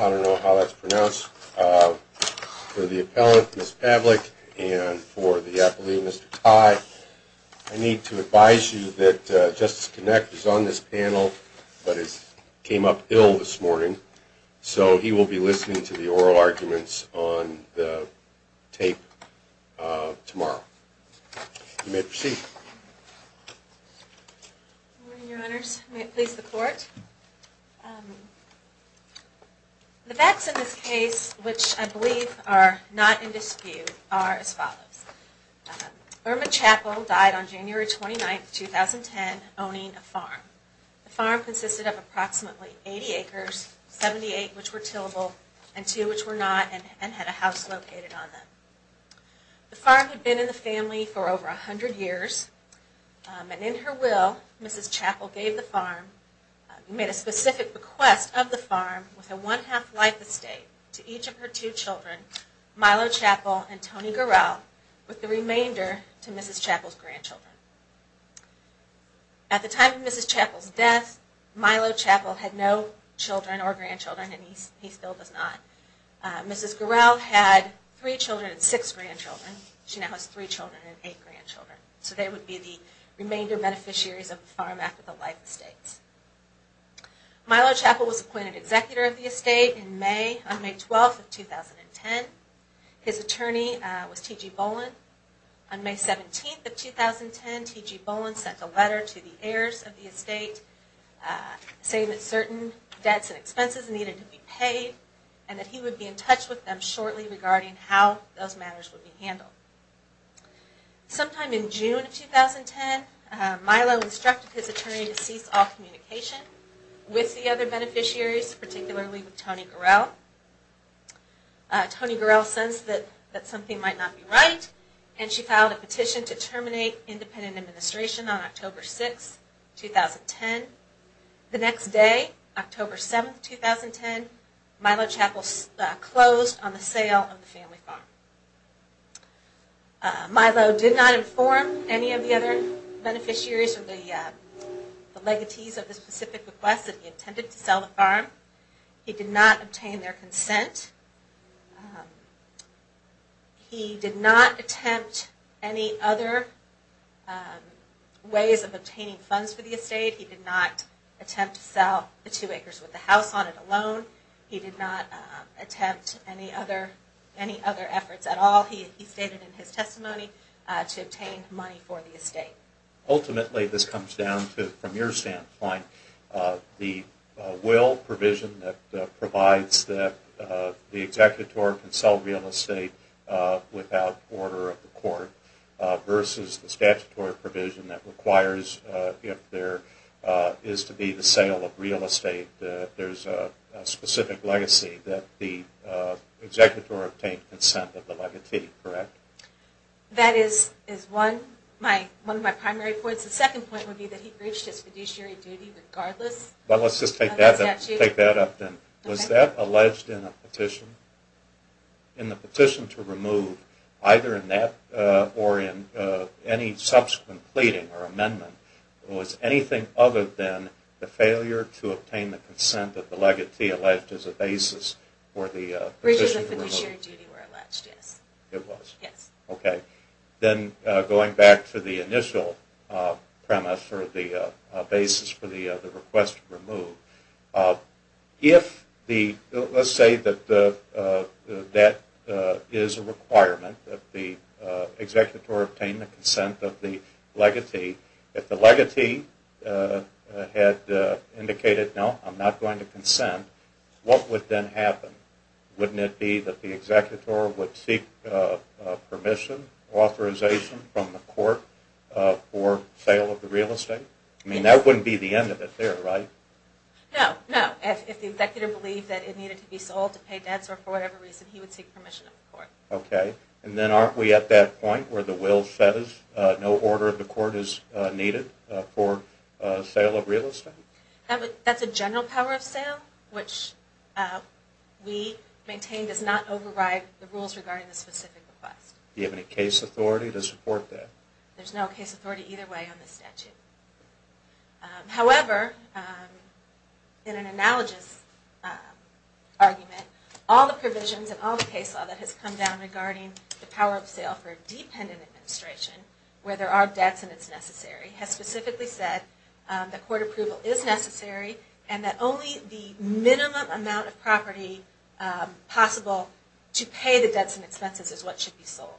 I don't know how that's pronounced. For the appellant, Miss Pavlik, and for the appellee, Mr. Tai, I need to advise you that Justice Kinect is on this panel, but came up ill this morning. Thank you. Thank you. Thank you. Thank you. And so he will be listening to the oral arguments on the tape tomorrow. You may proceed. Good morning, Your Honors. May it please the Court. The facts in this case, which I believe are not in dispute, are as follows. The farm consisted of approximately 80 acres, 78 which were tillable, and 2 which were not, and had a house located on them. The farm had been in the family for over 100 years, and in her will, Mrs. Chappell gave the farm, made a specific request of the farm with a one-half life estate to each of her two children, Milo Chappell and Tony Gurrell, with the remainder to Mrs. Chappell's grandchildren. At the time of Mrs. Chappell's death, Milo Chappell had no children or grandchildren, and he still does not. Mrs. Gurrell had three children and six grandchildren. She now has three children and eight grandchildren. So they would be the remainder beneficiaries of the farm after the life estates. Milo Chappell was appointed executor of the estate in May, on May 12th of 2010. His attorney was T.G. Boland. On May 17th of 2010, T.G. Boland sent a letter to the heirs of the estate saying that certain debts and expenses needed to be paid and that he would be in touch with them shortly regarding how those matters would be handled. Sometime in June of 2010, Milo instructed his attorney to cease all communication with the other beneficiaries, particularly with Tony Gurrell. Tony Gurrell sensed that something might not be right, and she filed a petition to terminate independent administration on October 6th, 2010. The next day, October 7th, 2010, Milo Chappell closed on the sale of the family farm. Milo did not inform any of the other beneficiaries of the legacies of the specific request that he intended to sell the farm. He did not obtain their consent. He did not attempt any other ways of obtaining funds for the estate. He did not attempt to sell the two acres with the house on it alone. He did not attempt any other efforts at all, he stated in his testimony, to obtain money for the estate. Ultimately, this comes down to, from your standpoint, the will provision that provides that the executor can sell real estate without order of the court, versus the statutory provision that requires if there is to be the sale of real estate that there is a specific legacy that the executor obtain consent of the legacy. Correct? That is one of my primary points. The second point would be that he breached his fiduciary duty regardless Let's just take that up then. Was that alleged in a petition? In the petition to remove, either in that or in any subsequent pleading or amendment, was anything other than the failure to obtain the consent that the legacy alleged as a basis for the petition to remove? Breaches of fiduciary duty were alleged, yes. Going back to the initial premise for the basis for the request to remove, let's say that that is a requirement that the executor obtain the consent of the legacy. If the legacy had indicated no, I'm not going to consent, what would then happen? Wouldn't it be that the executor would seek permission or authorization from the court for sale of the real estate? That wouldn't be the end of it there, right? No. If the executor believed that it needed to be sold to pay debts or for whatever reason, he would seek permission from the court. Then aren't we at that point where the will says no order of the court is needed for sale of real estate? That's a general power of sale which we maintain does not override the rules regarding the specific request. Do you have any case authority to support that? There's no case authority either way on this statute. However, in an analogous argument, all the provisions and all the case law that has come down regarding the power of sale for a dependent administration where there are debts and it's necessary has specifically said that court approval is necessary and that only the minimum amount of property possible to pay the debts and expenses is what should be sold.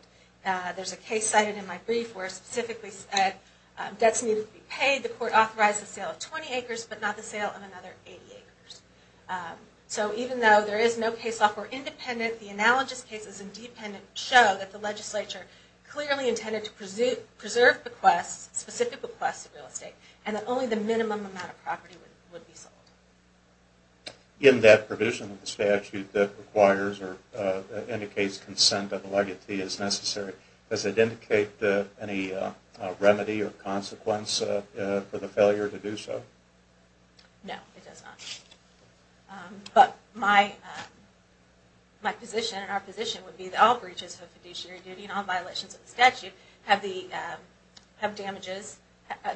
There's a case cited in my brief where it specifically said debts needed to be paid, the court authorized the sale of 20 acres but not the sale of another 80 acres. So even though there is no case law for independent, the analogous cases in dependent show that the legislature clearly intended to preserve requests, specific requests for real estate and that only the minimum amount of property would be sold. In that provision of the statute that requires or indicates consent of the legatee as necessary, does it indicate any remedy or consequence for the failure to do so? No, it does not. But my position and our position would be that all breaches of fiduciary duty and all violations of the statute have damages.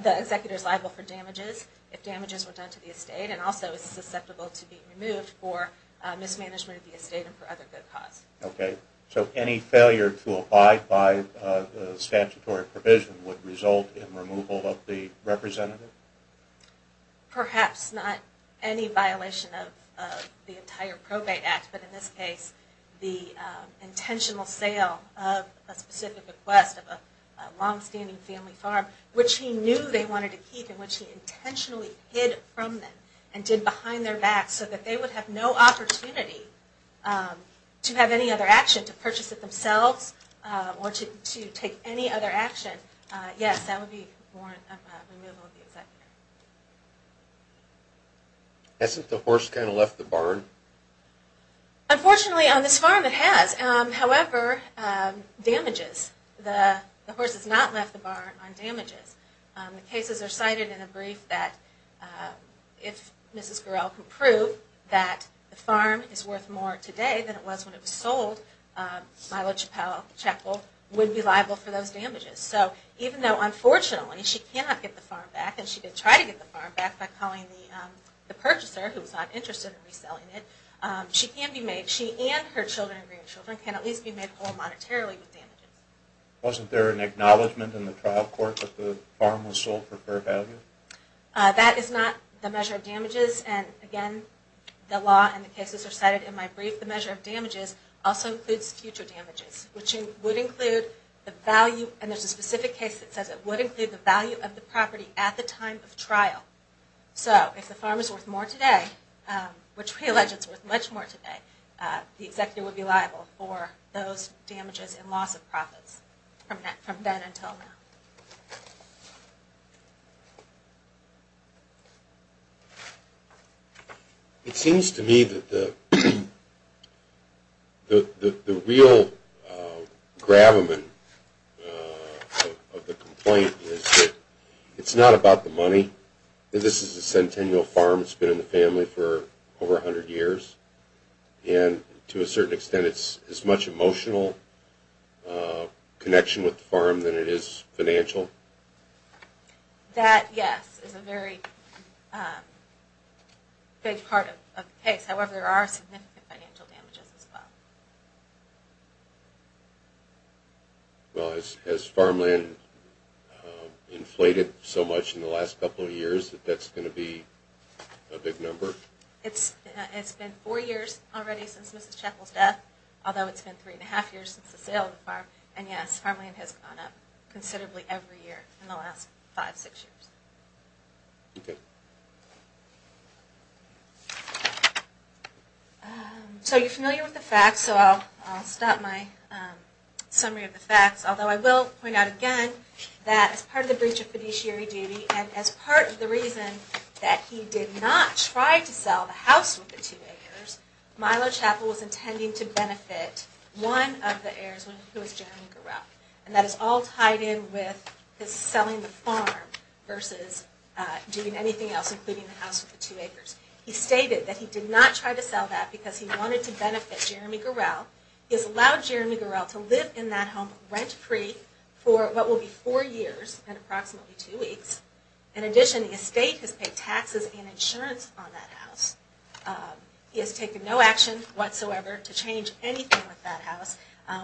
The executor is liable for damages if damages were done to the estate and also is susceptible to be removed for mismanagement of the estate and for other good cause. So any failure to abide by the statutory provision would result in removal of the representative? Perhaps not any violation of the entire probate act, but in this case the specific request of a long-standing family farm, which he knew they wanted to keep and which he intentionally hid from them and did behind their backs so that they would have no opportunity to have any other action to purchase it themselves or to take any other action. Yes, that would be removal of the executor. Hasn't the horse kind of left the barn? Unfortunately, on this farm it has. However, damages. The horse has not left the barn on damages. The cases are cited in a brief that if Mrs. Gorel can prove that the farm is worth more today than it was when it was sold, Milo Chapel would be liable for those damages. So even though unfortunately she cannot get the farm back and she did try to get the farm back by calling the purchaser, who was not interested in reselling it, she and her children and grandchildren can at least be made whole monetarily with damages. Wasn't there an acknowledgment in the trial court that the farm was sold for fair value? That is not the measure of damages. Again, the law and the cases are cited in my brief. The measure of damages also includes future damages, which would include the value of the property at the time of trial. So if the farm is worth more today, which we allege is worth much more today, the executive would be liable for those damages and loss of profits from then until now. It seems to me that the real gravamen of the complaint is that it's not about the money. This is a centennial farm. It's been in the family for over 100 years. To a certain extent, it's as much emotional connection with the farm than it is financial. That, yes, is a very big part of the case. However, there are significant financial damages as well. Well, has farmland inflated so much in the last couple of years that that's going to be a big number? It's been four years already since Mrs. Sheckle's death, although it's been three and a half years since the sale of the farm. And yes, farmland has gone up considerably every year in the last five or six years. Okay. So you're familiar with the facts, so I'll stop my summary of the facts, although I will point out again that as part of the breach of fiduciary duty and as part of the reason that he did not try to sell the house with the two heirs, Milo Chapel was intending to benefit one of the heirs, who was Jeremy Gurek. And that is all tied in with his selling the farm versus doing anything else, including the house with the two heirs. He stated that he did not try to sell that because he wanted to benefit Jeremy Gurek. He has allowed Jeremy Gurek to live in that home rent-free for what will be four years and approximately two weeks. In addition, the estate has paid taxes and insurance on that house. He has taken no action whatsoever to change anything with that house,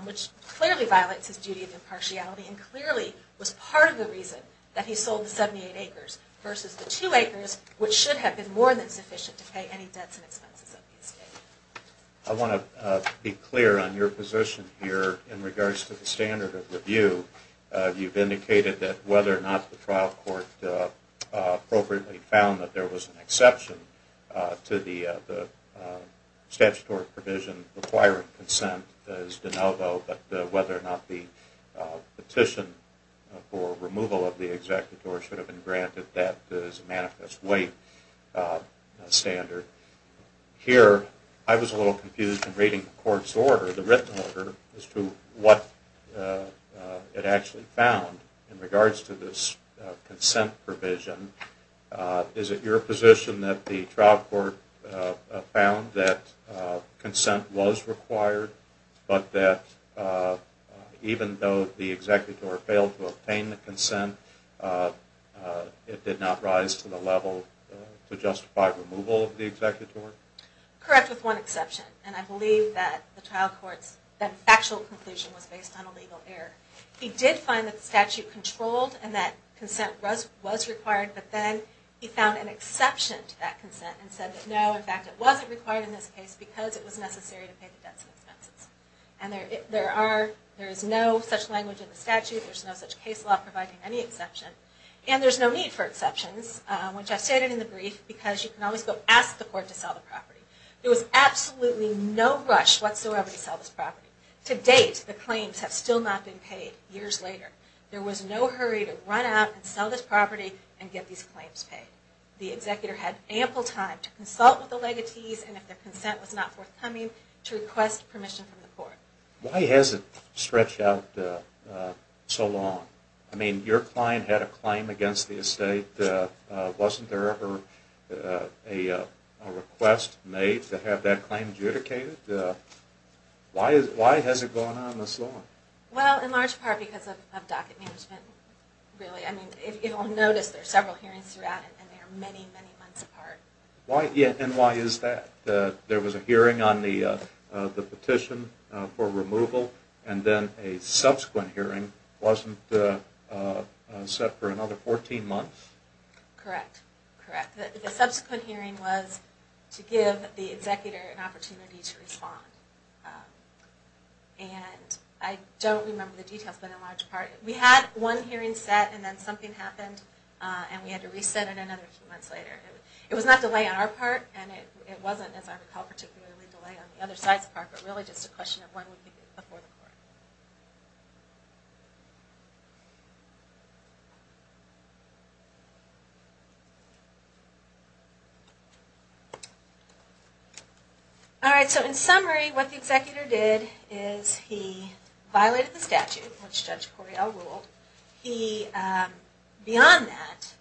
which clearly violates his duty of impartiality and clearly was part of the reason that he sold the 78 acres versus the two acres, which should have been more than sufficient to pay any debts and expenses of the estate. I want to be clear on your position here in regards to the standard of review. You've indicated that whether or not the trial court appropriately found that there was an exception to the statutory provision requiring consent is and whether or not the petition for removal of the executor should have been granted that as a manifest way standard. Here, I was a little confused in reading the court's order. The written order as to what it actually found in regards to this consent provision. Is it your position that the trial court found that consent was required, but that even though the executor failed to obtain the consent, it did not rise to the level to justify removal of the executor? Correct, with one exception, and I believe that the trial court's factual conclusion was based on a legal error. He did find that the statute controlled and that consent was required, but then he found an exception to that consent and said that no, in fact, it wasn't required in this case because it was necessary to pay the debts and expenses. There is no such language in the statute, there is no such case law providing any exception, and there is no need for exceptions, which I stated in the brief, because you can always go ask the court to sell the property. There was absolutely no rush whatsoever to sell this property. To date, the claims have still not been paid years later. There was no hurry to run out and sell this property and get these claims paid. The executor had ample time to consult with the legatees and if their consent was not forthcoming, to request permission from the court. Why has it stretched out so long? Your client had a claim against the estate. Wasn't there ever a request made to have that claim adjudicated? Why has it gone on this long? Well, in large part because of docket management. If you don't notice, there are several hearings throughout and they are many, many months apart. And why is that? There was a hearing on the petition for removal and then a subsequent hearing wasn't set for another 14 months? Correct. The subsequent hearing was to give the executor an opportunity to respond. And I don't remember the details, but in large part we had one hearing set and then something happened and we had to reset it another few months later. It was not delay on our part and it wasn't, as I recall, particularly delay on the other side's part, but really just a question of when would it be before the court. All right, so in summary, what the executor did is he violated the statute, which Judge Cordell ruled. He, beyond that,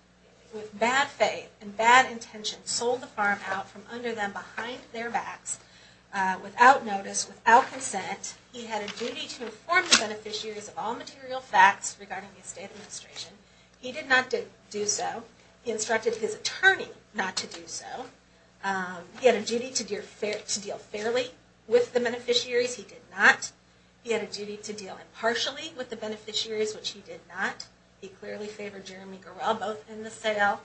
with bad faith and bad intention, sold the farm out from under them, behind their backs, He had a duty to do that. He had a duty to inform the beneficiaries of all material facts regarding the estate administration. He did not do so. He instructed his attorney not to do so. He had a duty to deal fairly with the beneficiaries. He did not. He had a duty to deal impartially with the beneficiaries, which he did not. He clearly favored Jeremy Gorel both in the sale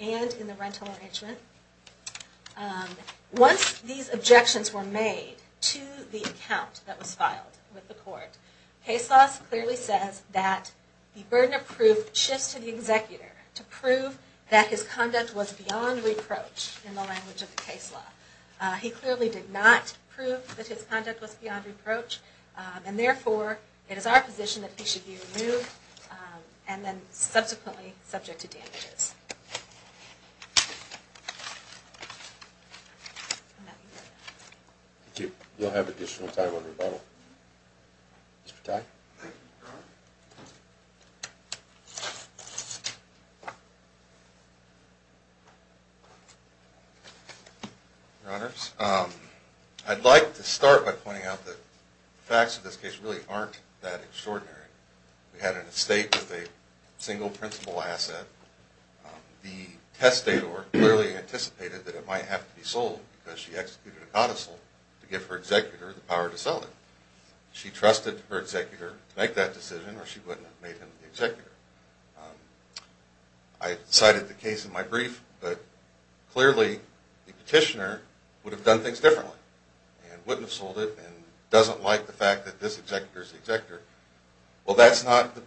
and in the rental arrangement. Once these objections were made to the account that was filed with the court, case law clearly says that the burden of proof shifts to the executor to prove that his conduct was beyond reproach in the language of the case law. He clearly did not prove that his conduct was beyond reproach and therefore it is our position that he should be removed and then subsequently subject to damages. Thank you. You'll have additional time on rebuttal. Mr. Tye. Your Honors, I'd like to start by pointing out that the facts of this case really aren't that extraordinary. We had an estate with a single principal asset and the testator clearly anticipated that it might have to be sold because she executed a codicil to give her executor the power to sell it. She trusted her executor to make that decision or she wouldn't have made him the executor. I cited the case in my brief but clearly the petitioner would have done things differently and wouldn't have sold it and doesn't like the fact that this executor is the executor. Well, that's not the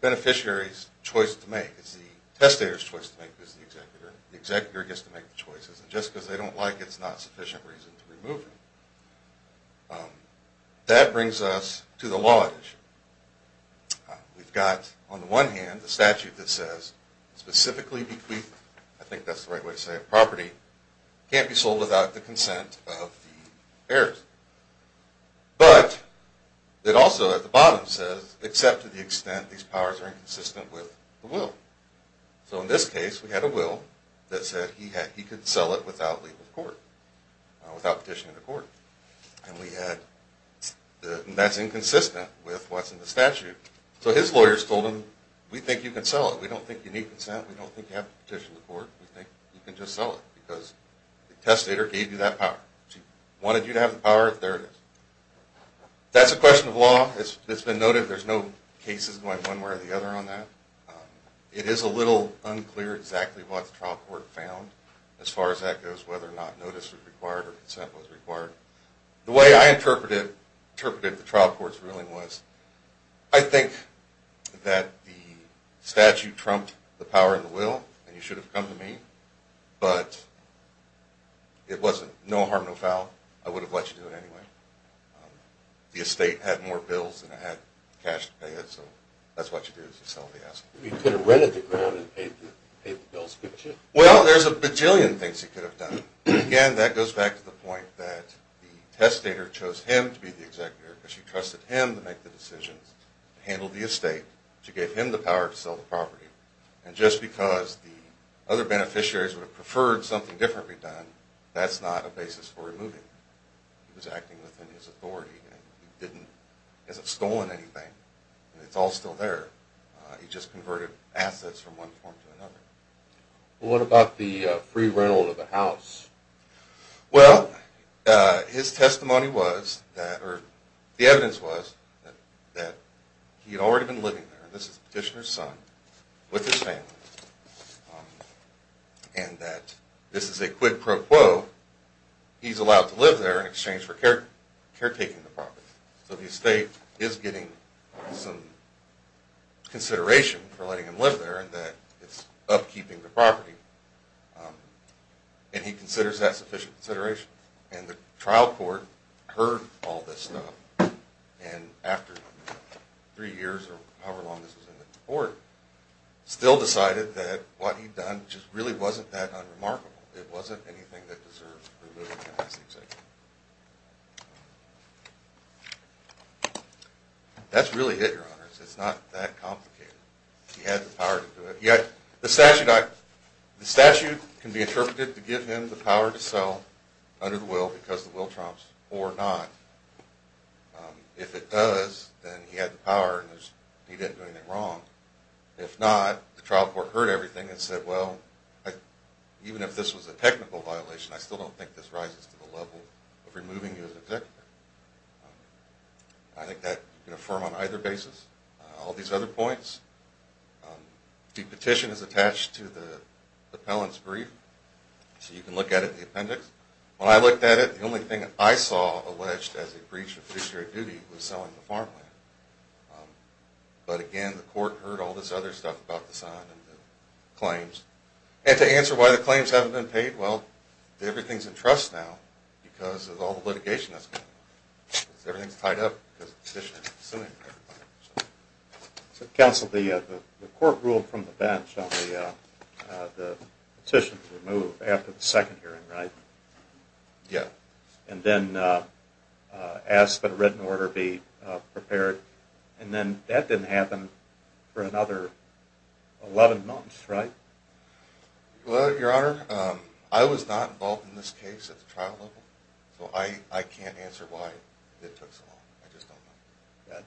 beneficiary's choice to make. It's the testator's choice to make as the executor. The executor gets to make the choices and just because they don't like it's not sufficient reason to remove him. That brings us to the law issue. We've got on the one hand the statute that says specifically bequeathed I think that's the right way to say it, property can't be sold without the consent of the heirs. But it also at the bottom says except to the extent these powers are inconsistent with the will. So in this case we had a will that said he could sell it without legal court without petitioning the court. And that's inconsistent with what's in the statute. So his lawyers told him we think you can sell it. We don't think you need consent. We don't think you have to petition the court. We think you can just sell it because the testator gave you that power. If he wanted you to have the power, there it is. That's a question of law. It's been noted there's no cases going one way or the other on that. It is a little unclear exactly what the trial court found as far as that goes whether or not notice was required or consent was required. The way I interpreted the trial court's ruling was I think that the statute trumped the power of the will and you should have come to me. But it wasn't no harm no foul. I would have let you do it anyway. The estate had more bills than it had cash to pay it. So that's what you do is you sell the asset. You could have rented the ground and paid the bills. Well, there's a bajillion things he could have done. Again, that goes back to the point that the testator chose him to be the executor because she trusted him to make the decisions to handle the estate to give him the power to sell the property. And just because the other beneficiaries would have preferred something differently done, that's not a basis for removing him. He was acting within his authority and he hasn't stolen anything. It's all still there. He just converted assets from one form to another. What about the free rental of the house? Well, his testimony was or the evidence was that he had already been living there. This is Petitioner's son with his family. And that this is a quid pro quo. He's allowed to live there in exchange for caretaking the property. So the estate is getting some consideration for letting him live there and that it's upkeeping the property. And he considers that sufficient consideration. And the trial court heard all this stuff and after three years or however long this was in the court still decided that what he'd done just really wasn't that unremarkable. It wasn't anything that deserved removing him as the executor. That's really it, Your Honor. It's not that complicated. He had the power to do it. Yet the statute can be interpreted to give him the power to sell under the will because the will prompts or not. If it does, then he had the power and he didn't do anything wrong. If not, the trial court heard everything and said, well even if this was a technical violation, I still don't think this rises to the level of removing you as executor. I think that can be affirmed on either basis. All these other points. The petition is attached to the appellant's brief. So you can look at it in the appendix. When I looked at it, the only thing I saw alleged as a breach of fishery duty was selling the farmland. But again, the court heard all this other stuff about the sign and the claims. And to answer why the claims haven't been paid, well, everything's in trust now because of all the litigation that's going on. Everything's tied up because the petitioner is suing everybody. Counsel, the court ruled from the bench on the petition to remove after the second hearing, right? Yeah. And then asked that a written order be prepared. And then that didn't happen for another 11 months, right? Well, Your Honor, I was not involved in this case at the trial level. So I can't answer why it took so long. I just don't know.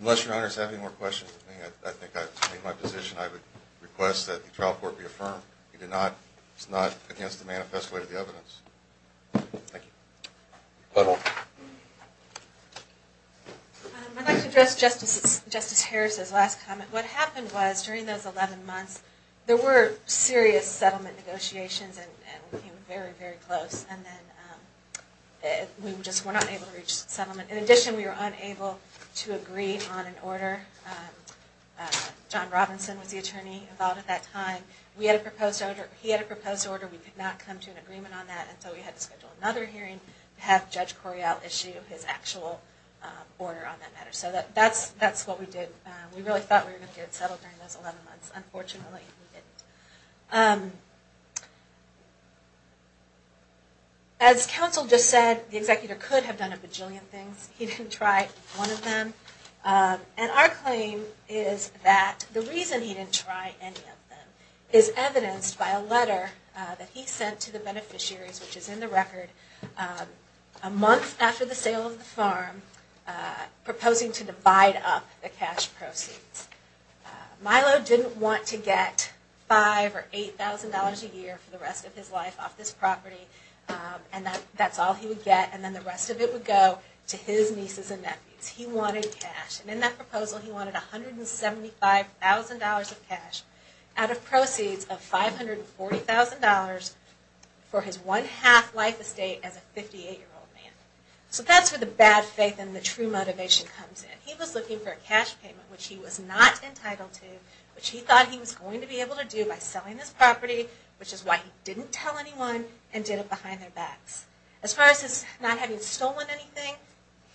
Unless Your Honor has any more questions, I think I've made my position. I would request that the trial court be affirmed. It's not against the manifesto of the evidence. Thank you. I'd like to address Justice Harris's last comment. What happened was, during those 11 months, there were serious settlement negotiations and we came very, very close. We just were not able to reach settlement. In addition, we were unable to agree on an order. John Robinson was the attorney involved at that time. He had a proposed order. We could not come to an agreement on that until we had to schedule another hearing to have Judge Correale issue his actual order on that matter. So that's what we did. We really thought we were going to get it settled during those 11 months. Unfortunately, we didn't. As counsel just said, the executor could have done a bajillion things. He didn't try one of them. And our claim is that the reason he didn't try any of them is evidenced by a letter that he sent to the beneficiaries, which is in the record, a month after the sale of the farm proposing to divide up the cash proceeds. Milo didn't want to get $5,000 or $8,000 a year for the rest of his life off this property. And that's all he would get. And then the rest of it would go to his nieces and nephews. He wanted cash. And in that proposal, he wanted $175,000 of cash out of proceeds of $540,000 for his one-half life estate as a 58-year-old man. So that's where the bad faith and the true motivation comes in. He was looking for a cash payment, which he was not entitled to, which he thought he was going to be able to do by selling this property, which is why he didn't tell anyone and did it behind their backs. As far as not having stolen anything,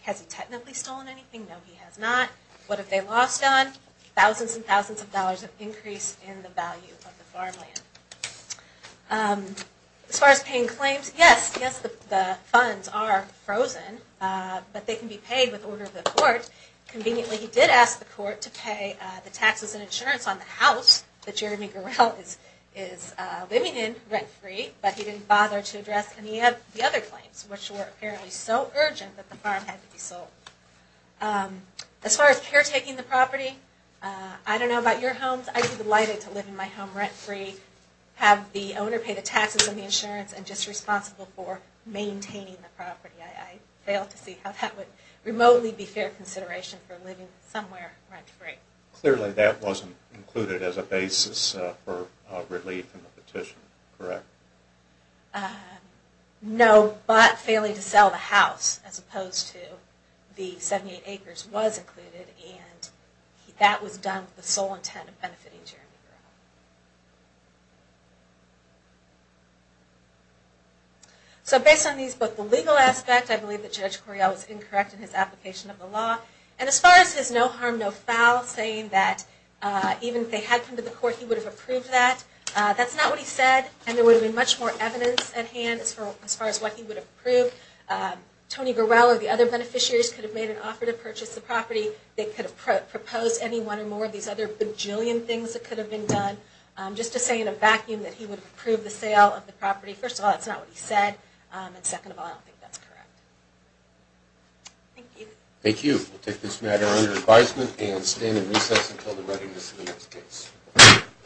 has he technically stolen anything? No, he has not. What have they lost on? Thousands and thousands of dollars of increase in the value of the farmland. As far as paying claims, yes, the funds are frozen, but they can be paid with order of the court. Conveniently, he did ask the court to pay the taxes and insurance on the house that Jeremy Gurel is living in rent-free, but he didn't bother to address any of the other claims, which were apparently so urgent that the farm had to be sold. As far as caretaking the property, I don't know about your homes. I'd be delighted to live in my home rent-free, have the owner pay the taxes and the insurance, and just responsible for maintaining the property. I fail to see how that would remotely be fair consideration for living somewhere rent-free. Clearly that wasn't included as a basis for relief in the petition, correct? No, but failing to sell the house as opposed to the 78 acres was included and that was done with the sole intent of benefiting Jeremy Gurel. So based on these, both the legal aspect, I believe that Judge Correale was incorrect in his application of the law, and as far as his no harm, no foul saying that even if they had come to the court, he would have approved that, that's not what he said, and there would have been much more evidence at hand as far as what he would have approved. Tony Gurel or the other beneficiaries could have made an offer to purchase the property. They could have proposed any one or more of these other bajillion things that could have been done. Just to say in a vacuum that he would have approved the sale of the property, first of all, that's not what he said, and second of all, I don't think that's correct. Thank you.